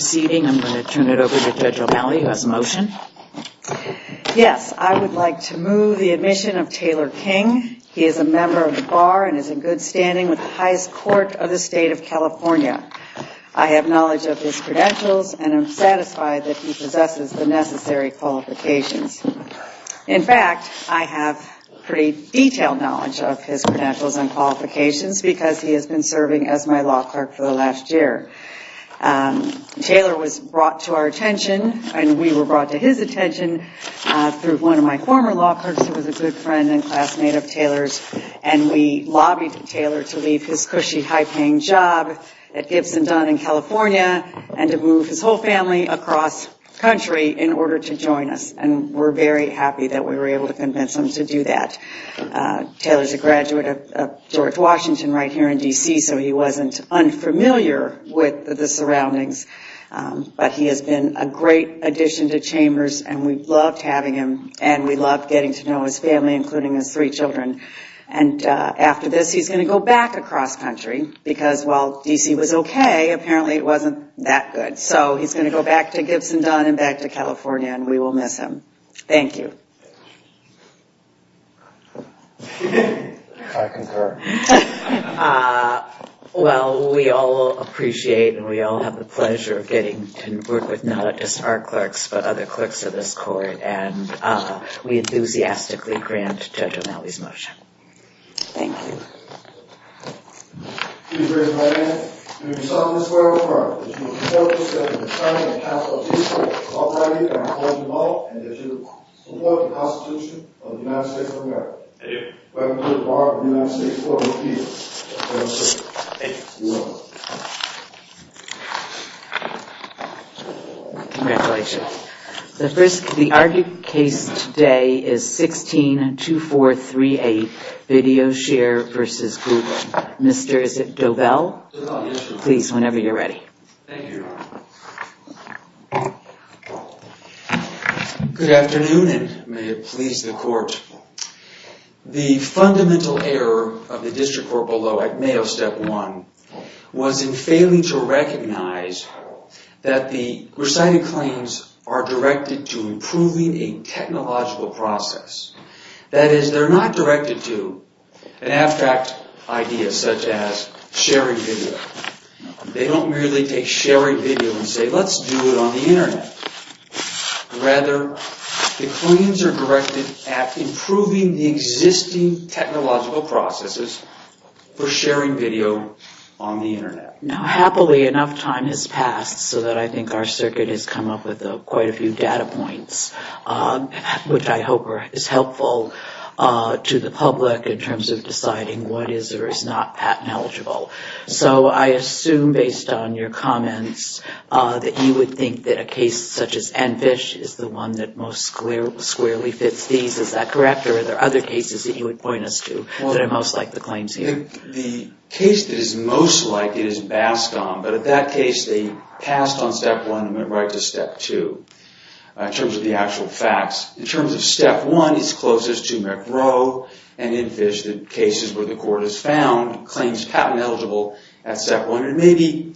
Yes, I would like to move the admission of Taylor King. He is a member of the Bar and is in good standing with the highest court of the state of California. I have knowledge of his credentials and am satisfied that he possesses the necessary qualifications. In fact, I have pretty detailed knowledge of his credentials and qualifications because he has been serving as my law clerk for the last year. Taylor was brought to our attention and we were brought to his attention through one of my former law clerks who was a good friend and classmate of Taylor's. We lobbied Taylor to leave his cushy, high-paying job at Gibson Dunn in California and to move his whole family across country in order to join us. We are very happy that we were able to convince him to do that. Taylor is a graduate of George Washington right here in D.C. so he wasn't unfamiliar with the surroundings, but he has been a great addition to Chambers and we loved having him and we loved getting to know his family, including his three children. After this he is going to go back across country because while D.C. was okay, apparently it wasn't that good. So he is going to go back to Gibson Dunn and back to California and we will miss him. Thank you. I concur. Well we all appreciate and we all have the pleasure of getting to work with not just our clerks but other clerks of this court and we enthusiastically grant Judge O'Malley's motion. Thank you. Please raise your right hand. In the name of the Son of the Spirit of the Father, the Holy Spirit, the Son of the Holy Spirit, Almighty God, who art in all things, hallowed be thy name, thy kingdom come, thy will be done, on earth as it is in heaven. Amen. Welcome to the Bar of the United States Court of Appeals. Thank you. Congratulations. The argued case today is 16-2438 Video Share vs. Google. Mr. Dovell, please whenever you are ready. Thank you, Your Honor. Good afternoon and may it please the court. The fundamental error of the district court below at Mayo Step 1 was in failing to recognize that the recited claims are directed to improving a technological process. That is, they are not directed to an abstract idea such as sharing video. They don't merely take sharing video and say let's do it on the internet. Rather, the claims are directed at improving the existing technological processes for sharing video on the internet. Now, happily, enough time has passed so that I think our circuit has come up with quite a few data points, which I hope is helpful to the public in terms of deciding what is or is not patent eligible. So I assume based on your comments that you would think that a case such as Anfish is the one that most squarely fits these. Is that correct or are there other cases that you would point us to that are most like the claims here? The case that is most like it is Bascom, but at that case they passed on Step 1 and went right to Step 2 in terms of the actual facts. In terms of Step 1, it's closest to McGrow and Anfish, the cases where the court has found claims patent eligible at Step 1. And maybe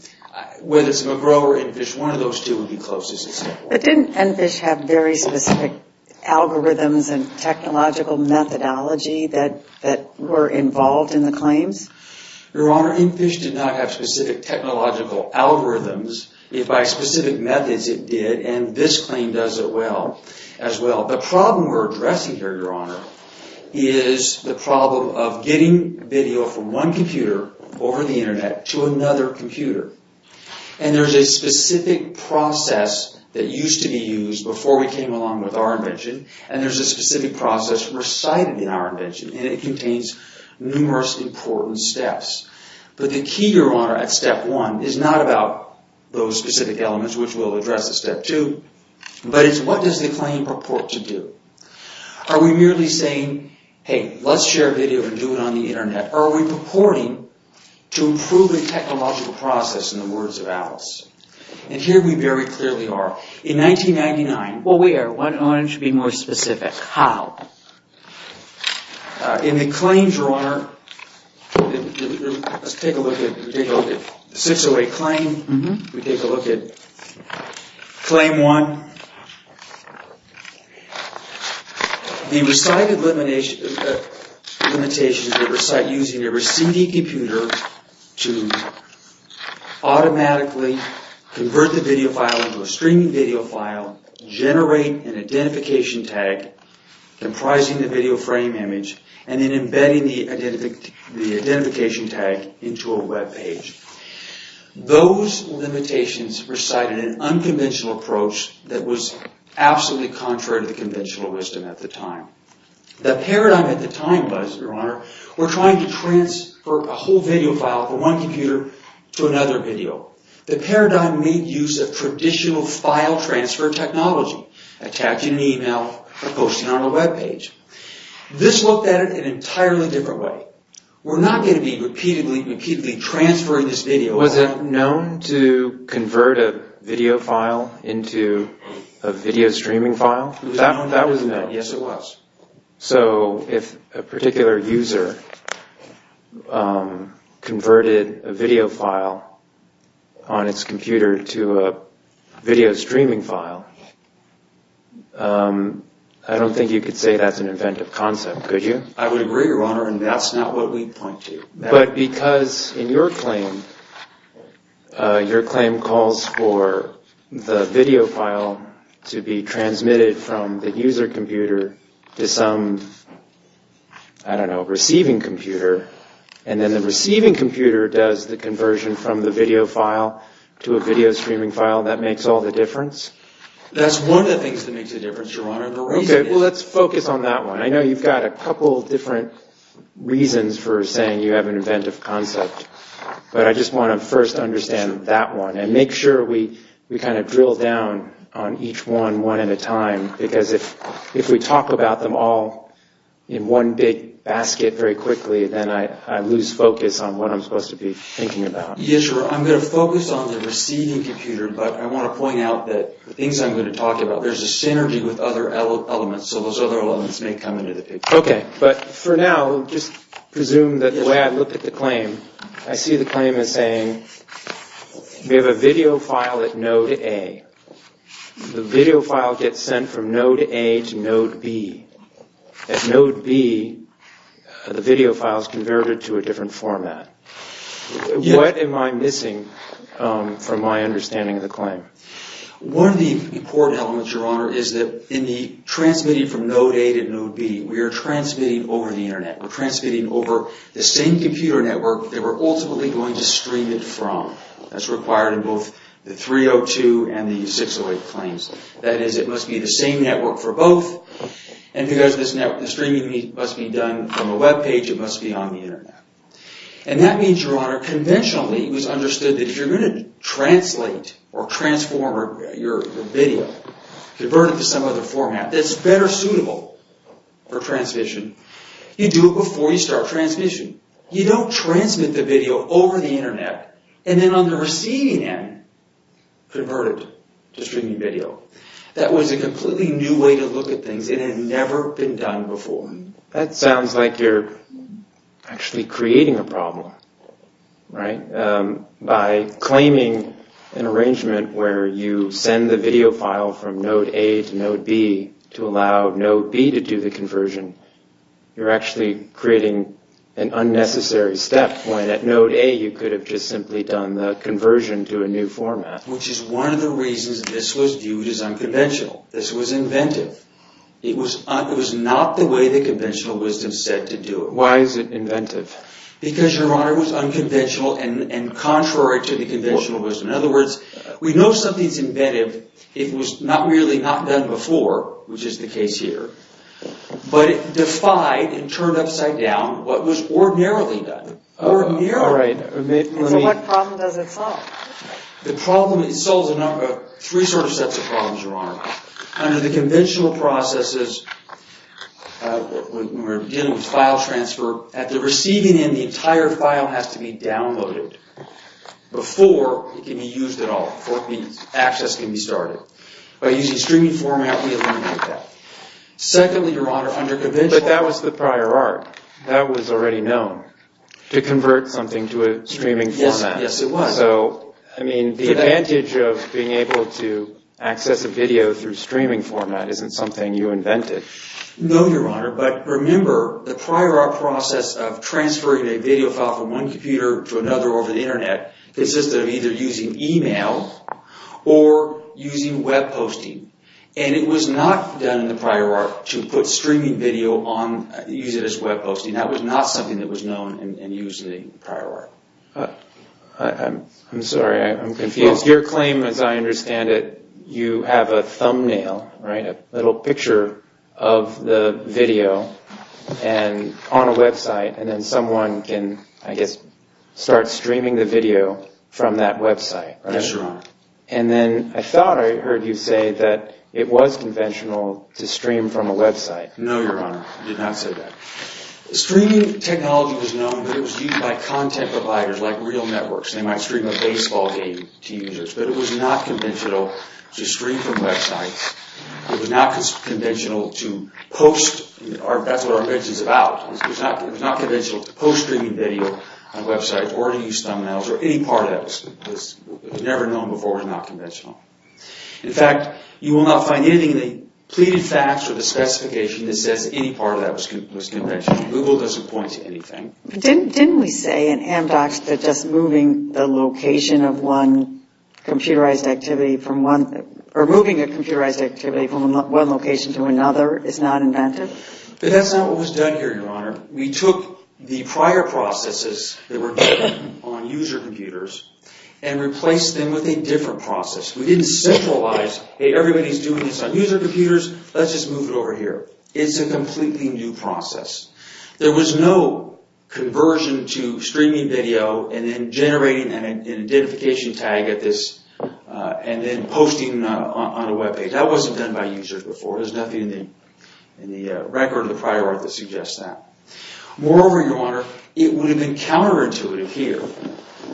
whether it's McGrow or Anfish, one of those two would be closest to Step 1. But didn't Anfish have very specific algorithms and technological methodology that were involved in the claims? Your Honor, Anfish did not have specific technological algorithms. By specific methods it did, and this claim does it well. The problem we're addressing here, Your Honor, is the problem of getting video from one computer over the internet to another computer. And there's a specific process that used to be used before we came along with our invention, and there's a specific process recited in our invention, and it contains numerous important steps. But the key, Your Honor, at Step 1 is not about those specific elements which will address the Step 2, but it's what does the claim purport to do? Are we merely saying, hey, let's share video and do it on the internet? Are we purporting to improve the technological process in the words of Alice? And here we very clearly are. In 1999... Well, we are. Why don't you be more specific? How? In the claims, Your Honor, let's take a look at 608 claim. We take a look at claim 1. The recited limitations were recited using a receiving computer to automatically convert the video file into a streaming video file, generate an identification tag comprising the video frame image, and then embedding the identification tag into a webpage. Those limitations recited an unconventional approach that was absolutely contrary to the conventional wisdom at the time. The paradigm at the time was, Your Honor, we're trying to transfer a whole video file from one computer to another video. The paradigm made use of traditional file transfer technology, attaching an email or posting on a webpage. This looked at it in an entirely different way. We're not going to be repeatedly transferring this video. Was it known to convert a video file into a video streaming file? That was known. Yes, it was. So if a particular user converted a video file on its computer to a video streaming file, I don't think you could say that's an inventive concept, could you? I would agree, Your Honor, and that's not what we point to. But because in your claim, your claim calls for the video file to be transmitted from the user computer to some, I don't know, receiving computer, and then the receiving computer does the conversion from the video file to a video streaming file, that makes all the difference? That's one of the things that makes the difference, Your Honor. Okay, well, let's focus on that one. I know you've got a couple of different reasons for saying you have an inventive concept, but I just want to first understand that one and make sure we kind of drill down on each one, one at a time, because if we talk about them all in one big basket very quickly, then I lose focus on what I'm supposed to be thinking about. Yes, Your Honor, I'm going to focus on the receiving computer, but I want to point out that the things I'm going to talk about, there's a synergy with other elements, so those other elements may come into the picture. Okay, but for now, just presume that the way I look at the claim, I see the claim as saying we have a video file at node A. The video file gets sent from node A to node B. At node B, the video file is converted to a different format. What am I missing from my understanding of the claim? One of the important elements, Your Honor, is that in the transmitting from node A to node B, we are transmitting over the Internet. We're transmitting over the same computer network that we're ultimately going to stream it from. That's required in both the 302 and the 608 claims. That is, it must be the same network for both, and because the streaming must be done from a web page, it must be on the Internet. And that means, Your Honor, conventionally, it was understood that if you're going to translate or transform your video, convert it to some other format that's better suitable for transmission, you do it before you start transmission. You don't transmit the video over the Internet, and then on the receiving end, convert it to streaming video. That was a completely new way to look at things, and it had never been done before. That sounds like you're actually creating a problem, right? By claiming an arrangement where you send the video file from node A to node B to allow node B to do the conversion, you're actually creating an unnecessary step when at node A you could have just simply done the conversion to a new format. Which is one of the reasons this was viewed as unconventional. This was inventive. It was not the way the conventional wisdom said to do it. Why is it inventive? Because, Your Honor, it was unconventional and contrary to the conventional wisdom. In other words, we know something's inventive if it was not really not done before, which is the case here. But it defied and turned upside down what was ordinarily done. So what problem does it solve? It solves three sorts of problems, Your Honor. Under the conventional processes, we're dealing with file transfer. At the receiving end, the entire file has to be downloaded before it can be used at all, before access can be started. By using streaming format, we eliminate that. Secondly, Your Honor, under conventional... But that was the prior art. That was already known. To convert something to a streaming format. Yes, it was. So, I mean, the advantage of being able to access a video through streaming format isn't something you invented. No, Your Honor. But remember, the prior art process of transferring a video file from one computer to another over the Internet consisted of either using email or using web posting. And it was not done in the prior art to put streaming video on... use it as web posting. That was not something that was known and used in the prior art. I'm sorry, I'm confused. Your claim, as I understand it, you have a thumbnail, right? A little picture of the video on a website. And then someone can, I guess, start streaming the video from that website, right? Yes, Your Honor. And then I thought I heard you say that it was conventional to stream from a website. No, Your Honor. I did not say that. Streaming technology was known, but it was used by content providers like real networks. They might stream a baseball game to users. But it was not conventional to stream from websites. It was not conventional to post... that's what our invention is about. It was not conventional to post streaming video on websites or to use thumbnails or any part of that. It was never known before it was not conventional. In fact, you will not find anything in the pleaded facts or the specification that says any part of that was conventional. Google doesn't point to anything. Didn't we say in Amdocs that just moving the location of one computerized activity from one... or moving a computerized activity from one location to another is not inventive? But that's not what was done here, Your Honor. We took the prior processes that were done on user computers and replaced them with a different process. We didn't centralize, hey, everybody's doing this on user computers, let's just move it over here. It's a completely new process. There was no conversion to streaming video and then generating an identification tag at this and then posting on a webpage. That wasn't done by users before. There's nothing in the record of the prior art that suggests that. Moreover, Your Honor, it would have been counterintuitive here.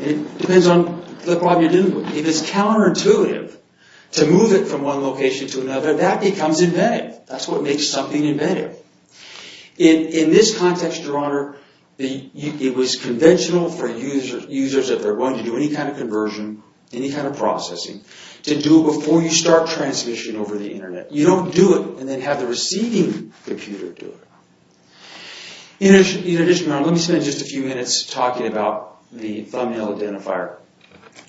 It depends on the problem you're dealing with. If it's counterintuitive to move it from one location to another, that becomes inventive. That's what makes something inventive. In this context, Your Honor, it was conventional for users, if they're going to do any kind of conversion, any kind of processing, to do it before you start transmission over the Internet. You don't do it and then have the receiving computer do it. In addition, Your Honor, let me spend just a few minutes talking about the thumbnail identifier.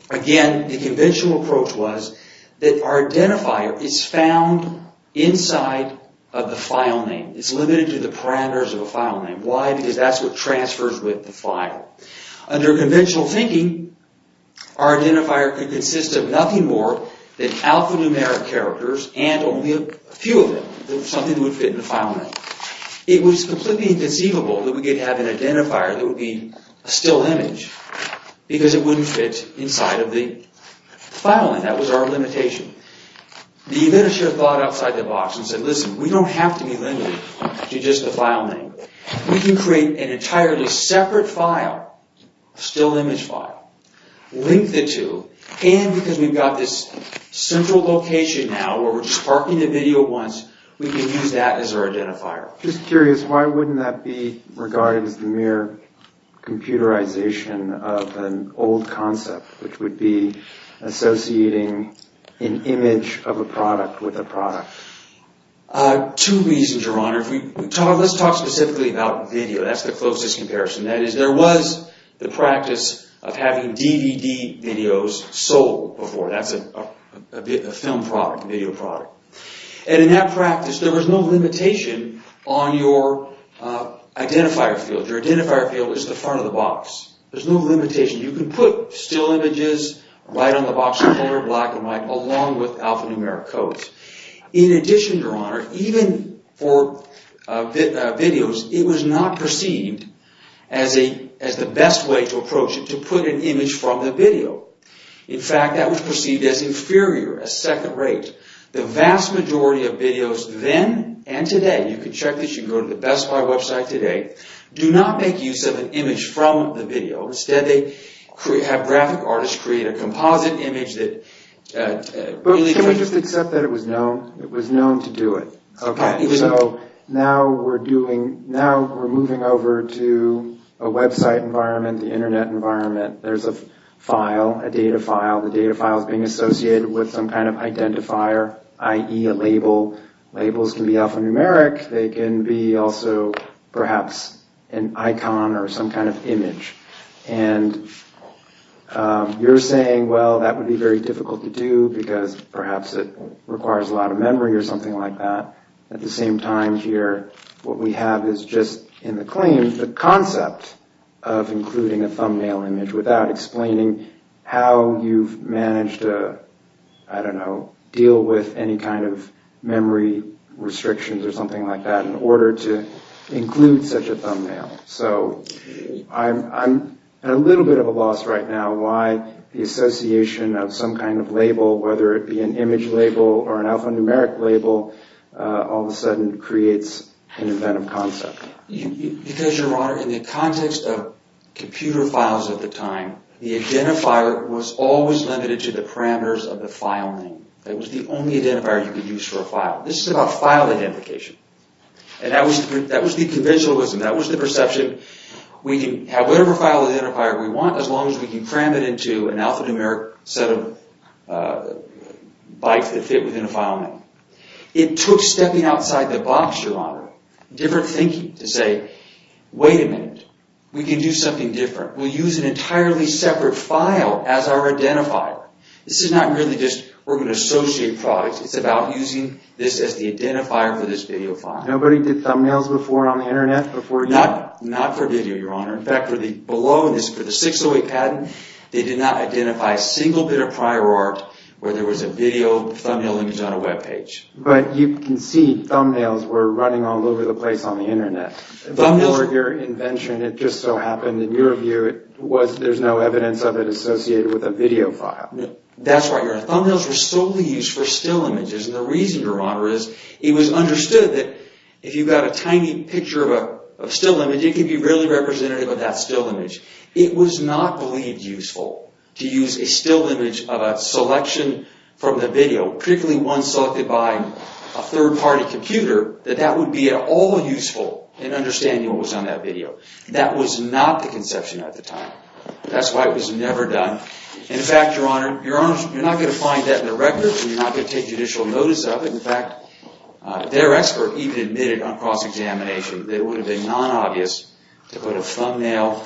Again, the conventional approach was that our identifier is found inside of the file name. It's limited to the parameters of a file name. Why? Because that's what transfers with the file. Under conventional thinking, our identifier could consist of nothing more than alphanumeric characters and only a few of them, something that would fit in the file name. It was completely inconceivable that we could have an identifier that would be a still image because it wouldn't fit inside of the file name. That was our limitation. The administrator thought outside the box and said, Listen, we don't have to be limited to just the file name. We can create an entirely separate file, a still image file, link the two, and because we've got this central location now where we're sparking the video once, we can use that as our identifier. Just curious, why wouldn't that be regarded as the mere computerization of an old concept, which would be associating an image of a product with a product? Two reasons, Your Honor. Let's talk specifically about video. That's the closest comparison. That is, there was the practice of having DVD videos sold before. That's a film product, a video product. And in that practice, there was no limitation on your identifier field. Your identifier field was the front of the box. There's no limitation. You can put still images right on the box, color, black and white, along with alphanumeric codes. In addition, Your Honor, even for videos, it was not perceived as the best way to approach it, to put an image from the video. In fact, that was perceived as inferior, as second-rate. The vast majority of videos then and today, you can check this, you can go to the Best Buy website today, do not make use of an image from the video. Instead, they have graphic artists create a composite image. But can we just accept that it was known? It was known to do it. So now we're moving over to a website environment, the Internet environment. There's a file, a data file. The data file is being associated with some kind of identifier, i.e., a label. Labels can be alphanumeric. They can be also perhaps an icon or some kind of image. And you're saying, well, that would be very difficult to do, because perhaps it requires a lot of memory or something like that. At the same time here, what we have is just, in the claim, the concept of including a thumbnail image without explaining how you've managed to, I don't know, deal with any kind of memory restrictions or something like that in order to include such a thumbnail. So I'm at a little bit of a loss right now why the association of some kind of label, whether it be an image label or an alphanumeric label, all of a sudden creates an event of concept. Because, Your Honor, in the context of computer files at the time, the identifier was always limited to the parameters of the file name. It was the only identifier you could use for a file. This is about file identification. And that was the conventionalism. That was the perception. We can have whatever file identifier we want, as long as we can cram it into an alphanumeric set of bytes that fit within a file name. It took stepping outside the box, Your Honor, different thinking to say, wait a minute, we can do something different. We'll use an entirely separate file as our identifier. This is not really just we're going to associate products. It's about using this as the identifier for this video file. Nobody did thumbnails before on the Internet? Not for video, Your Honor. In fact, for the 608 patent, they did not identify a single bit of prior art where there was a video thumbnail image on a web page. But you can see thumbnails were running all over the place on the Internet. Thumbnails were your invention. It just so happened, in your view, there's no evidence of it associated with a video file. That's right, Your Honor. Thumbnails were solely used for still images. And the reason, Your Honor, is it was understood that if you've got a tiny picture of a still image, it can be really representative of that still image. It was not believed useful to use a still image of a selection from the video, particularly one selected by a third-party computer, that that would be at all useful in understanding what was on that video. That was not the conception at the time. That's why it was never done. In fact, Your Honor, you're not going to find that in the records and you're not going to take judicial notice of it. In fact, their expert even admitted on cross-examination that it would have been non-obvious to put a thumbnail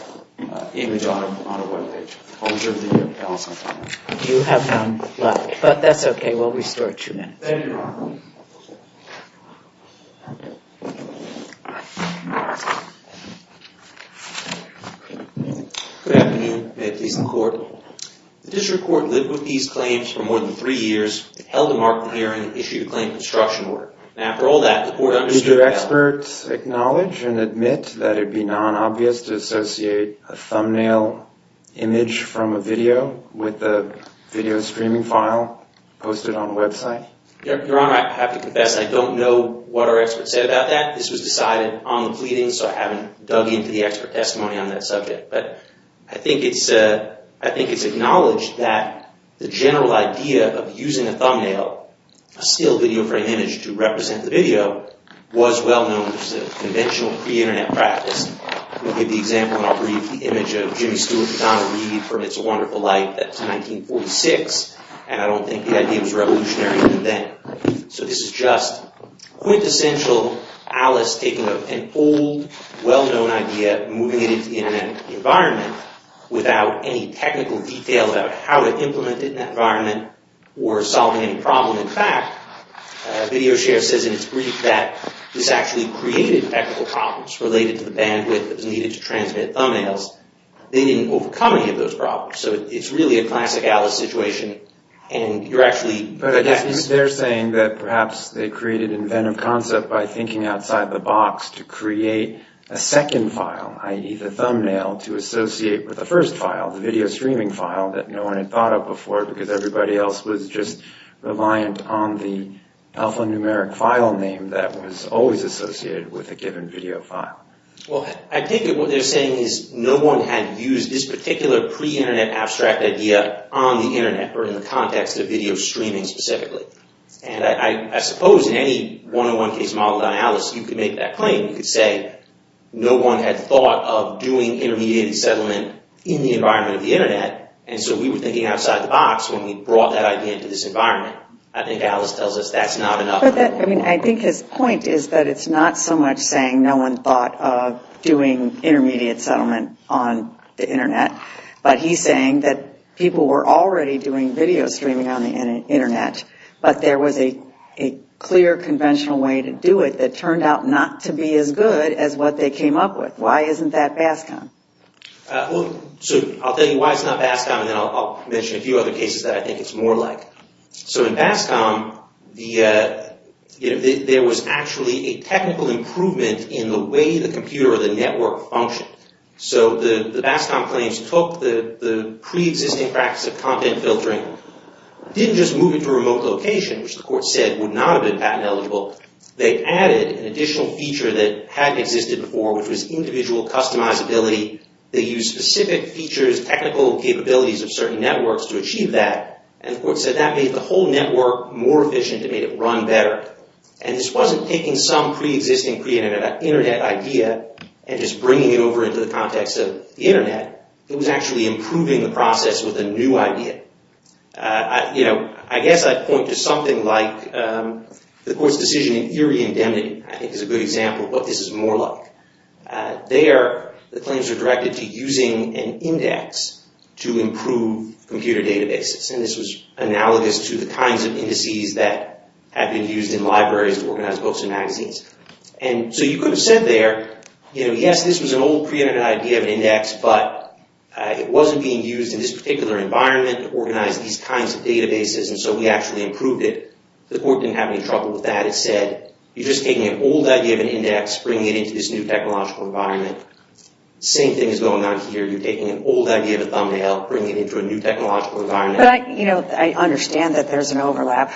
image on a web page. I'll reserve the balance of my time. You have none left, but that's okay. Thank you, Your Honor. Thank you. Good afternoon. May it please the Court. The district court lived with these claims for more than three years, held a market hearing, issued a claim construction order. And after all that, the court understood that... Did your experts acknowledge and admit that it would be non-obvious to associate a thumbnail image from a video with a video streaming file posted on a website? Your Honor, I have to confess I don't know what our experts said about that. This was decided on the pleading, so I haven't dug into the expert testimony on that subject. But I think it's acknowledged that the general idea of using a thumbnail, a still video frame image to represent the video, was well known as a conventional pre-internet practice. I'll give you the example and I'll read the image of Jimmy Stewart and Donna Reed from It's a Wonderful Life. That's 1946, and I don't think the idea was revolutionary even then. So this is just quintessential Alice taking an old, well-known idea, moving it into the internet environment without any technical details about how to implement it in that environment or solving any problem. In fact, VideoShare says in its brief that this actually created technical problems related to the bandwidth that was needed to transmit thumbnails. They didn't overcome any of those problems. So it's really a classic Alice situation, and you're actually... But they're saying that perhaps they created inventive concept by thinking outside the box to create a second file, i.e. the thumbnail, to associate with the first file, the video streaming file that no one had thought of before because everybody else was just reliant on the alphanumeric file name that was always associated with a given video file. Well, I think what they're saying is no one had used this particular pre-internet abstract idea on the internet or in the context of video streaming specifically. And I suppose in any one-on-one case modeled on Alice, you could make that claim. You could say no one had thought of doing intermediate settlement in the environment of the internet, and so we were thinking outside the box when we brought that idea into this environment. I think Alice tells us that's not enough. I think his point is that it's not so much saying no one thought of doing intermediate settlement on the internet, but he's saying that people were already doing video streaming on the internet, but there was a clear conventional way to do it that turned out not to be as good as what they came up with. Why isn't that BASCOM? I'll tell you why it's not BASCOM, and then I'll mention a few other cases that I think it's more like. So in BASCOM, there was actually a technical improvement in the way the computer or the network functioned. So the BASCOM claims took the pre-existing practice of content filtering, didn't just move it to a remote location, which the court said would not have been patent eligible. They added an additional feature that hadn't existed before, which was individual customizability. They used specific features, technical capabilities of certain networks to achieve that, and the court said that made the whole network more efficient. It made it run better, and this wasn't taking some pre-existing internet idea and just bringing it over into the context of the internet. It was actually improving the process with a new idea. I guess I'd point to something like the court's decision in Erie Indemnity, I think is a good example of what this is more like. There, the claims are directed to using an index to improve computer databases, and this was analogous to the kinds of indices that have been used in libraries to organize books and magazines. And so you could have said there, you know, yes, this was an old pre-existing idea of an index, but it wasn't being used in this particular environment to organize these kinds of databases, and so we actually improved it. The court didn't have any trouble with that. That said, you're just taking an old idea of an index, bringing it into this new technological environment. Same thing is going on here. You're taking an old idea of a thumbnail, bringing it into a new technological environment. But, you know, I understand that there's an overlap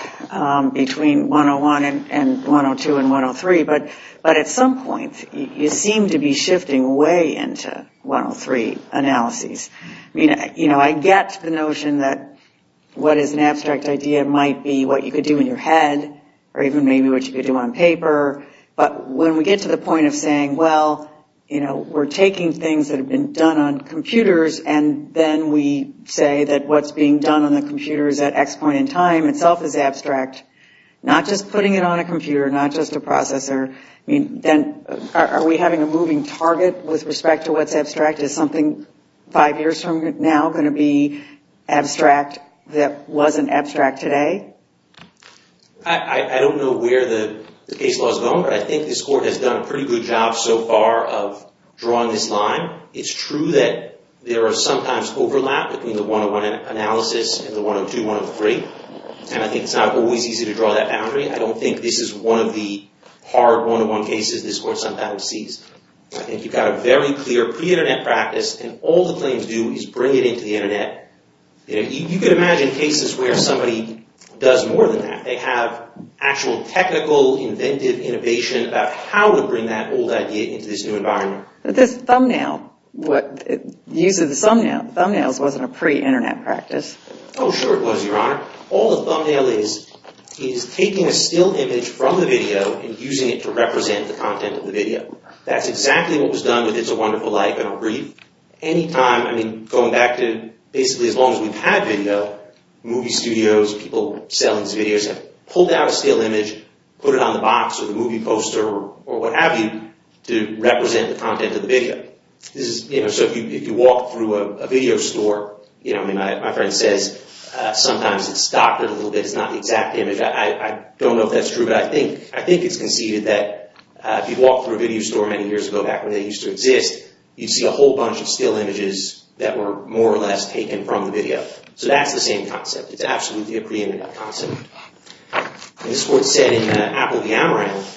between 101 and 102 and 103, but at some point you seem to be shifting way into 103 analyses. I mean, you know, I get the notion that what is an abstract idea might be what you could do in your head or even maybe what you could do on paper. But when we get to the point of saying, well, you know, we're taking things that have been done on computers and then we say that what's being done on the computers at X point in time itself is abstract, not just putting it on a computer, not just a processor, I mean, then are we having a moving target with respect to what's abstract? Is something five years from now going to be abstract that wasn't abstract today? I don't know where the case laws have gone, but I think this court has done a pretty good job so far of drawing this line. It's true that there are sometimes overlap between the 101 analysis and the 102-103, and I think it's not always easy to draw that boundary. I don't think this is one of the hard 101 cases this court sometimes sees. I think you've got a very clear pre-Internet practice, and all the claims do is bring it into the Internet. You can imagine cases where somebody does more than that. They have actual technical, inventive innovation about how to bring that old idea into this new environment. But this thumbnail, use of the thumbnail, thumbnails wasn't a pre-Internet practice. Oh, sure it was, Your Honor. All a thumbnail is is taking a still image from the video and using it to represent the content of the video. That's exactly what was done with It's a Wonderful Life and a brief. Going back to basically as long as we've had video, movie studios, people selling these videos have pulled out a still image, put it on the box or the movie poster or what have you to represent the content of the video. If you walk through a video store, my friend says sometimes it's docketed a little bit. It's not the exact image. I don't know if that's true, but I think it's conceded that if you walk through a video store many years ago, back when they used to exist, you'd see a whole bunch of still images that were more or less taken from the video. So that's the same concept. It's absolutely a pre-Internet concept. This is what's said in Apple of the Amaranth.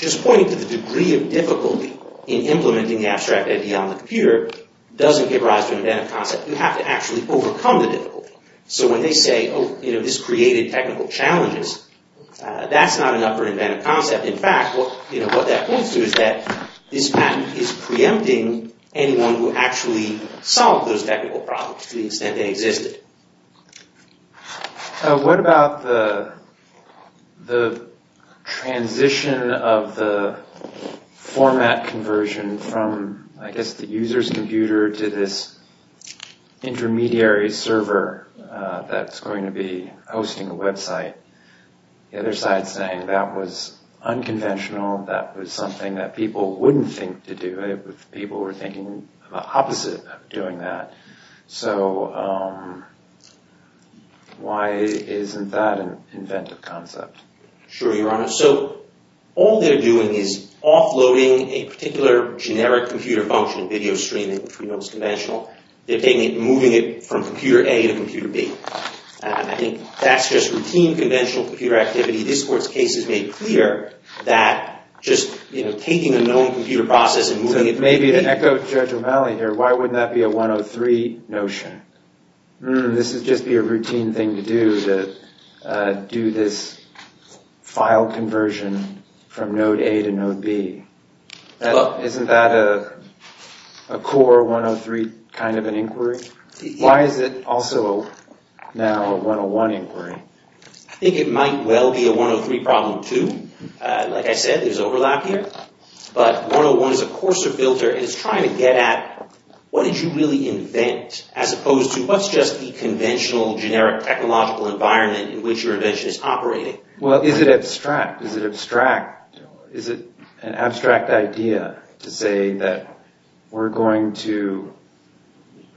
Just pointing to the degree of difficulty in implementing the abstract idea on the computer doesn't give rise to an inventive concept. You have to actually overcome the difficulty. So when they say, oh, this created technical challenges, that's not enough for an inventive concept. In fact, what that points to is that this patent is preempting anyone who actually solved those technical problems to the extent they existed. What about the transition of the format conversion from, I guess, the user's computer to this intermediary server that's going to be hosting a website? The other side is saying that was unconventional, that was something that people wouldn't think to do. People were thinking the opposite of doing that. So why isn't that an inventive concept? Sure, Your Honor. So all they're doing is offloading a particular generic computer function, video streaming, which we know is conventional. They're moving it from computer A to computer B. I think that's just routine conventional computer activity. This Court's case has made clear that just taking a known computer process and moving it. So maybe to echo Judge O'Malley here, why wouldn't that be a 103 notion? This would just be a routine thing to do, to do this file conversion from node A to node B. Isn't that a core 103 kind of an inquiry? Why is it also now a 101 inquiry? I think it might well be a 103 problem, too. Like I said, there's overlap here. But 101 is a coarser filter. It's trying to get at what did you really invent as opposed to what's just the conventional generic technological environment in which your invention is operating. Well, is it abstract? Is it an abstract idea to say that we're going to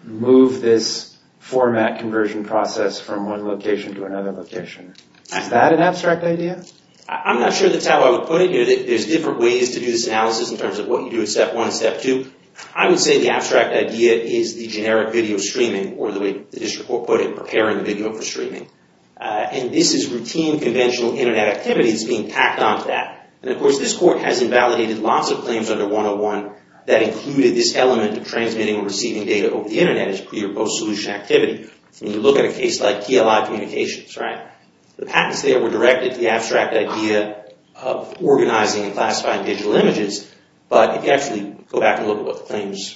move this format conversion process from one location to another location? Is that an abstract idea? I'm not sure that's how I would put it. There's different ways to do this analysis in terms of what you do in step one and step two. I would say the abstract idea is the generic video streaming or the way the District Court put it, preparing the video for streaming. This is routine conventional Internet activity that's being tacked onto that. Of course, this court has invalidated lots of claims under 101 that included this element of transmitting or receiving data over the Internet as pre- or post-solution activity. When you look at a case like TLI Communications, the patents there were directed to the abstract idea of organizing and classifying digital images. But if you actually go back and look at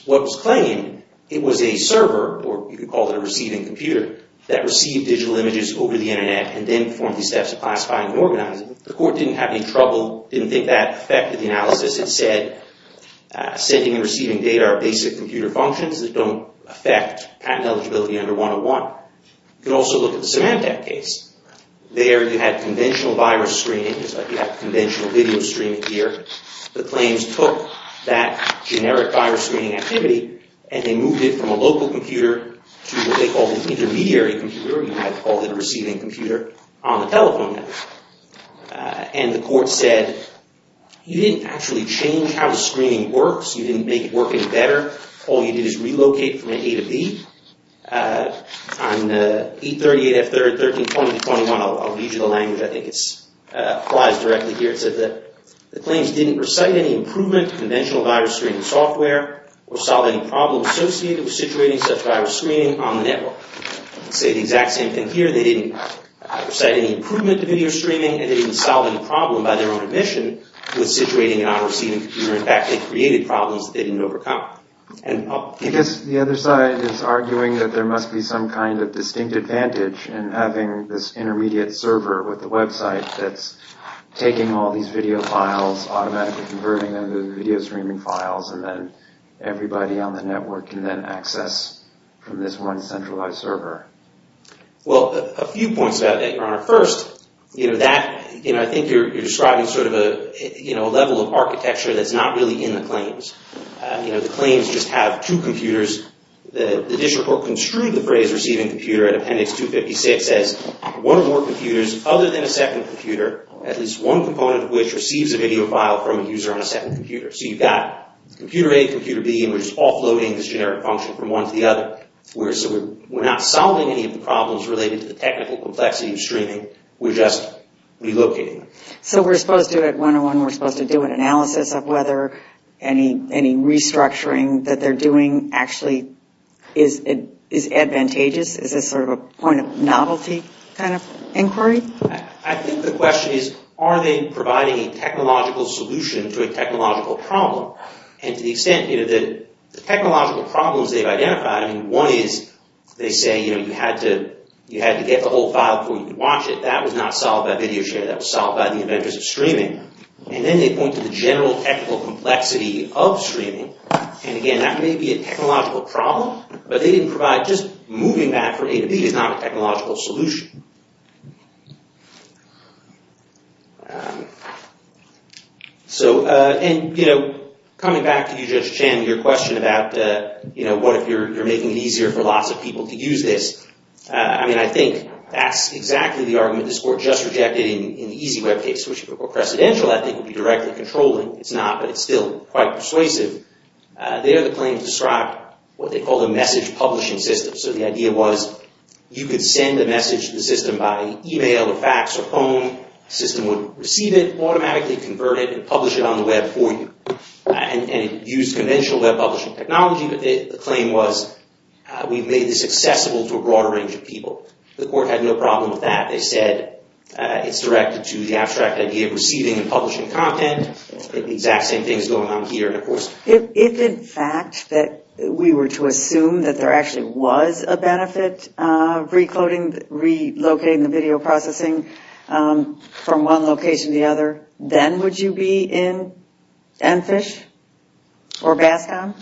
what was claimed, it was a server, or you could call it a receiving computer, that received digital images over the Internet and then performed these steps of classifying and organizing. The court didn't have any trouble, didn't think that affected the analysis. It said sending and receiving data are basic computer functions that don't affect patent eligibility under 101. You can also look at the Symantec case. There you had conventional virus screening, just like you have conventional video streaming here. The claims took that generic virus screening activity and they moved it from a local computer to what they call the intermediary computer, or you might call it a receiving computer, on the telephone network. And the court said, you didn't actually change how the screening works. You didn't make it work any better. All you did is relocate from A to B. On E38F132021, I'll read you the language. I think it applies directly here. It says that the claims didn't recite any improvement to conventional virus screening software or solve any problems associated with situating such virus screening on the network. I'll say the exact same thing here. They didn't recite any improvement to video streaming and they didn't solve any problem by their own admission with situating an unreceiving computer. In fact, they created problems that they didn't overcome. I guess the other side is arguing that there must be some kind of distinct advantage in having this intermediate server with the website that's taking all these video files, automatically converting them to video streaming files, and then everybody on the network can then access from this one centralized server. Well, a few points about that, Your Honor. First, I think you're describing sort of a level of architecture that's not really in the claims. The claims just have two computers. The district court construed the phrase receiving computer at appendix 256 as one or more computers other than a second computer, at least one component of which receives a video file from a user on a second computer. So you've got computer A, computer B, and we're just offloading this generic function from one to the other. We're not solving any of the problems related to the technical complexity of streaming. We're just relocating them. So we're supposed to, at 101, we're supposed to do an analysis of whether any restructuring that they're doing actually is advantageous? Is this sort of a point of novelty kind of inquiry? I think the question is, are they providing a technological solution to a technological problem? And to the extent, you know, the technological problems they've identified, I mean, one is they say, you know, you had to get the whole file before you could watch it. That was not solved by video sharing. That was solved by the inventors of streaming. And then they point to the general technical complexity of streaming. And again, that may be a technological problem, but they didn't provide just moving that from A to B is not a technological solution. So, and, you know, coming back to you, Judge Chan, your question about, you know, what if you're making it easier for lots of people to use this? I mean, I think that's exactly the argument this court just rejected in the EasyWeb case, which, if it were precedential, I think would be directly controlling. It's not, but it's still quite persuasive. There, the claim described what they called a message publishing system. So the idea was you could send a message to the system by email or fax or phone. The system would receive it, automatically convert it, and publish it on the web for you. And it used conventional web publishing technology, but the claim was we've made this accessible to a broader range of people. The court had no problem with that. They said it's directed to the abstract idea of receiving and publishing content. If, in fact, that we were to assume that there actually was a benefit, recoding, relocating the video processing from one location to the other, then would you be in Enfish or Bascom?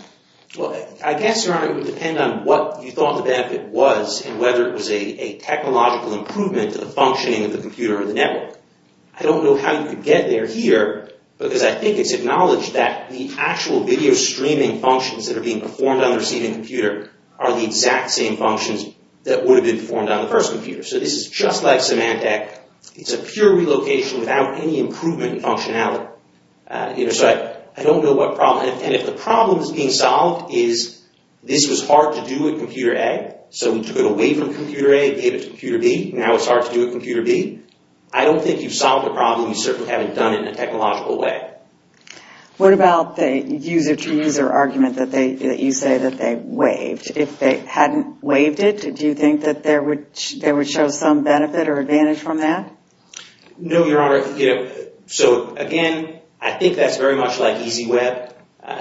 Well, I guess, Your Honor, it would depend on what you thought the benefit was and whether it was a technological improvement to the functioning of the computer or the network. I don't know how you could get there here because I think it's acknowledged that the actual video streaming functions that are being performed on the receiving computer are the exact same functions that would have been performed on the first computer. So this is just like Symantec. It's a pure relocation without any improvement in functionality. So I don't know what problem. And if the problem is being solved is this was hard to do with computer A, so we took it away from computer A and gave it to computer B. Now it's hard to do with computer B. And I don't think you've solved the problem. You certainly haven't done it in a technological way. What about the user-to-user argument that you say that they waived? If they hadn't waived it, do you think that there would show some benefit or advantage from that? No, Your Honor. So again, I think that's very much like EasyWeb.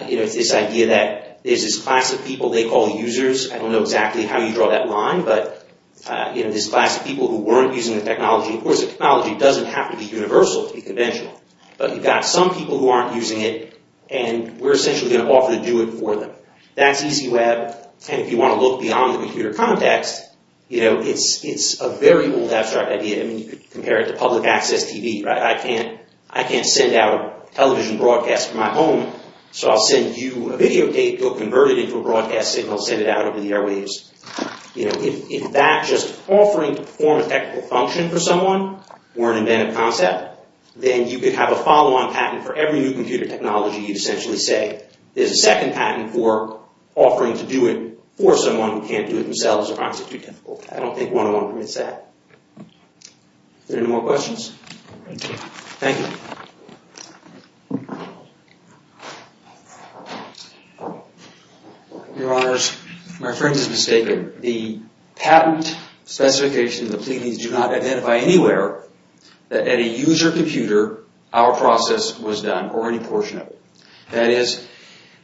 It's this idea that there's this class of people they call users. I don't know exactly how you draw that line. But this class of people who weren't using the technology. Of course, the technology doesn't have to be universal to be conventional. But you've got some people who aren't using it. And we're essentially going to offer to do it for them. That's EasyWeb. And if you want to look beyond the computer context, it's a very old abstract idea. I mean, you could compare it to public access TV. I can't send out television broadcasts from my home. So I'll send you a video tape. You'll convert it into a broadcast signal and send it out over the airwaves. If that's just offering to perform a technical function for someone or an inventive concept, then you could have a follow-on patent for every new computer technology. You'd essentially say there's a second patent for offering to do it for someone who can't do it themselves. I don't think one-on-one permits that. Are there any more questions? Thank you. Your Honors, my friend has mistaken. The patent specification of the pleadings do not identify anywhere that at a user computer, our process was done, or any portion of it. That is,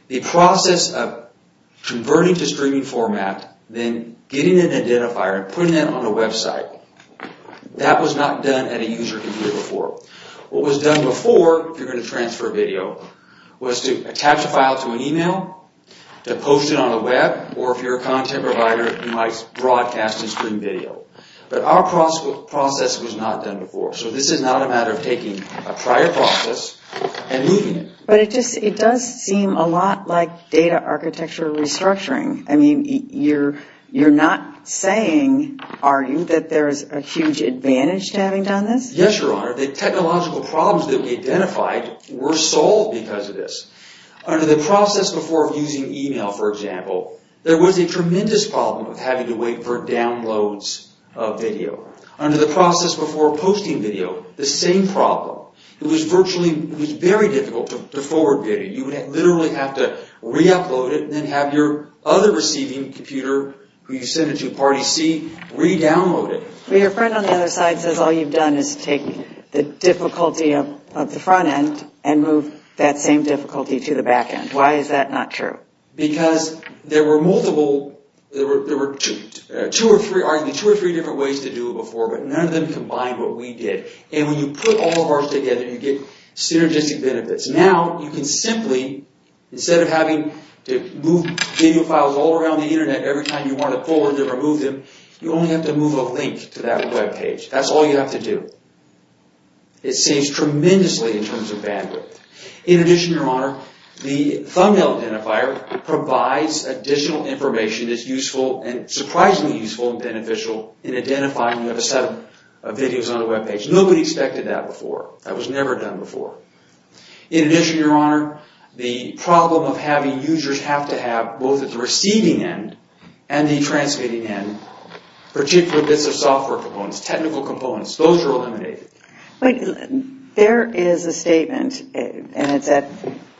the process of converting to streaming format, then getting an identifier and putting that on a website, that was not done at a user computer before. What was done before, if you're going to transfer video, was to attach a file to an email, to post it on the web, or if you're a content provider, you might broadcast and stream video. But our process was not done before. So this is not a matter of taking a prior process and moving it. But it does seem a lot like data architecture restructuring. I mean, you're not saying, are you, that there's a huge advantage to having done this? Yes, Your Honor, the technological problems that we identified were solved because of this. Under the process before using email, for example, there was a tremendous problem of having to wait for downloads of video. Under the process before posting video, the same problem. It was virtually, it was very difficult to forward video. You would literally have to re-upload it and then have your other receiving computer, who you send it to, Party C, re-download it. But your friend on the other side says all you've done is take the difficulty of the front end and move that same difficulty to the back end. Why is that not true? Because there were multiple, there were two or three, arguably two or three different ways to do it before, but none of them combined what we did. And when you put all of ours together, you get synergistic benefits. Now, you can simply, instead of having to move video files all around the Internet every time you want to pull or remove them, you only have to move a link to that webpage. That's all you have to do. It saves tremendously in terms of bandwidth. In addition, Your Honor, the thumbnail identifier provides additional information that's useful and surprisingly useful and beneficial in identifying a set of videos on a webpage. Nobody expected that before. That was never done before. In addition, Your Honor, the problem of having users have to have, both at the receiving end and the transmitting end, particular bits of software components, technical components, those are eliminated. But there is a statement, and it's at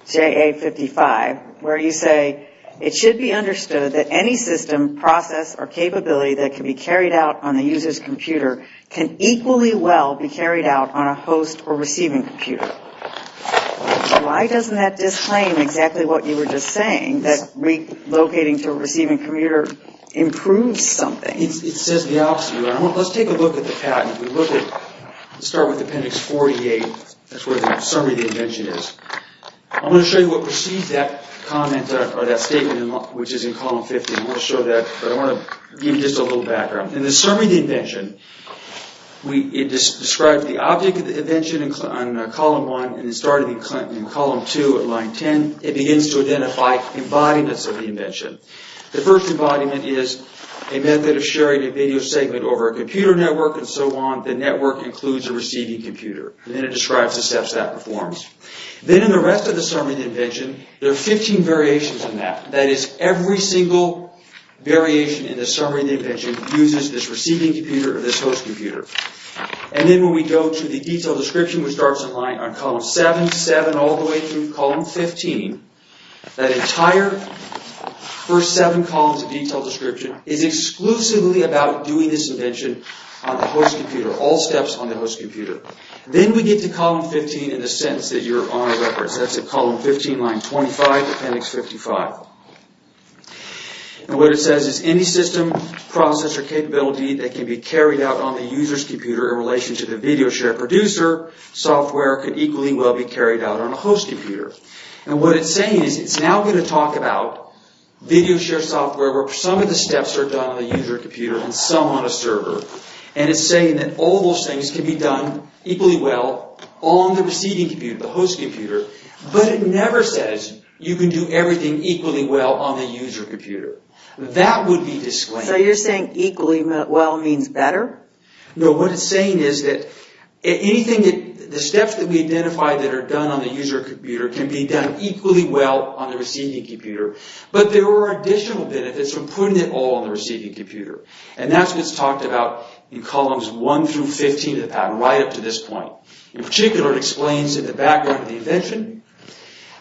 JA55, where you say, it should be understood that any system, process, or capability that can be carried out on the user's computer can equally well be carried out on a host or receiving computer. Why doesn't that disclaim exactly what you were just saying, that relocating to a receiving computer improves something? It says the opposite, Your Honor. Let's take a look at the patent. Let's start with Appendix 48. That's where the summary of the invention is. I'm going to show you what precedes that statement, which is in Column 50. I want to show that, but I want to give you just a little background. In the summary of the invention, it describes the object of the invention in Column 1, and it started in Column 2 at Line 10. It begins to identify embodiments of the invention. The first embodiment is a method of sharing a video segment over a computer network, and so on. The network includes a receiving computer. Then it describes the steps that performs. Then in the rest of the summary of the invention, there are 15 variations in that. That is, every single variation in the summary of the invention uses this receiving computer or this host computer. Then when we go to the detailed description, which starts in line on Column 7 to 7, all the way through Column 15, that entire first seven columns of detailed description is exclusively about doing this invention on the host computer. All steps on the host computer. Then we get to Column 15 in the sentence that Your Honor records. That's at Column 15, Line 25, Appendix 55. What it says is any system, process, or capability that can be carried out on the user's computer in relation to the VideoShare producer software can equally well be carried out on a host computer. What it's saying is it's now going to talk about VideoShare software where some of the steps are done on the user computer and some on a server. It's saying that all those things can be done equally well on the receiving computer, the host computer, but it never says you can do everything equally well on the user computer. That would be disclaiming. So you're saying equally well means better? No, what it's saying is that the steps that we identified that are done on the user computer can be done equally well on the receiving computer, but there are additional benefits from putting it all on the receiving computer. And that's what's talked about in Columns 1 through 15 of the patent, right up to this point. In particular, it explains in the background of the invention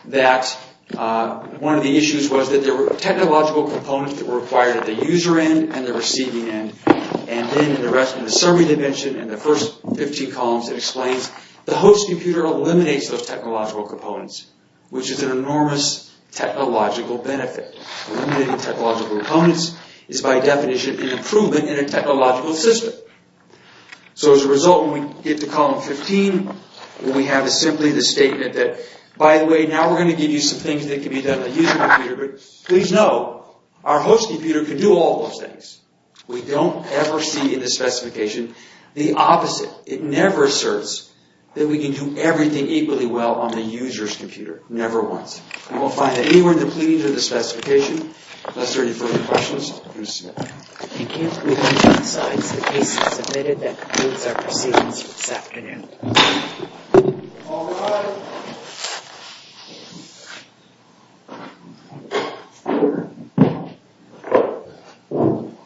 that one of the issues was that there were technological components that were required at the user end and the receiving end. And then in the rest of the summary of the invention, in the first 15 columns, it explains the host computer eliminates those technological components, which is an enormous technological benefit. Eliminating technological components is, by definition, an improvement in a technological system. So as a result, when we get to Column 15, what we have is simply the statement that, by the way, now we're going to give you some things that can be done on the user computer, but please know, our host computer can do all those things. We don't ever see in the specification the opposite. It never asserts that we can do everything equally well on the user's computer. Never once. We won't find it anywhere in the pleadings or the specification. Unless there are any further questions, we'll see you later. Thank you. We'll move on to the slides. The case is submitted. That concludes our proceedings for this afternoon. All rise.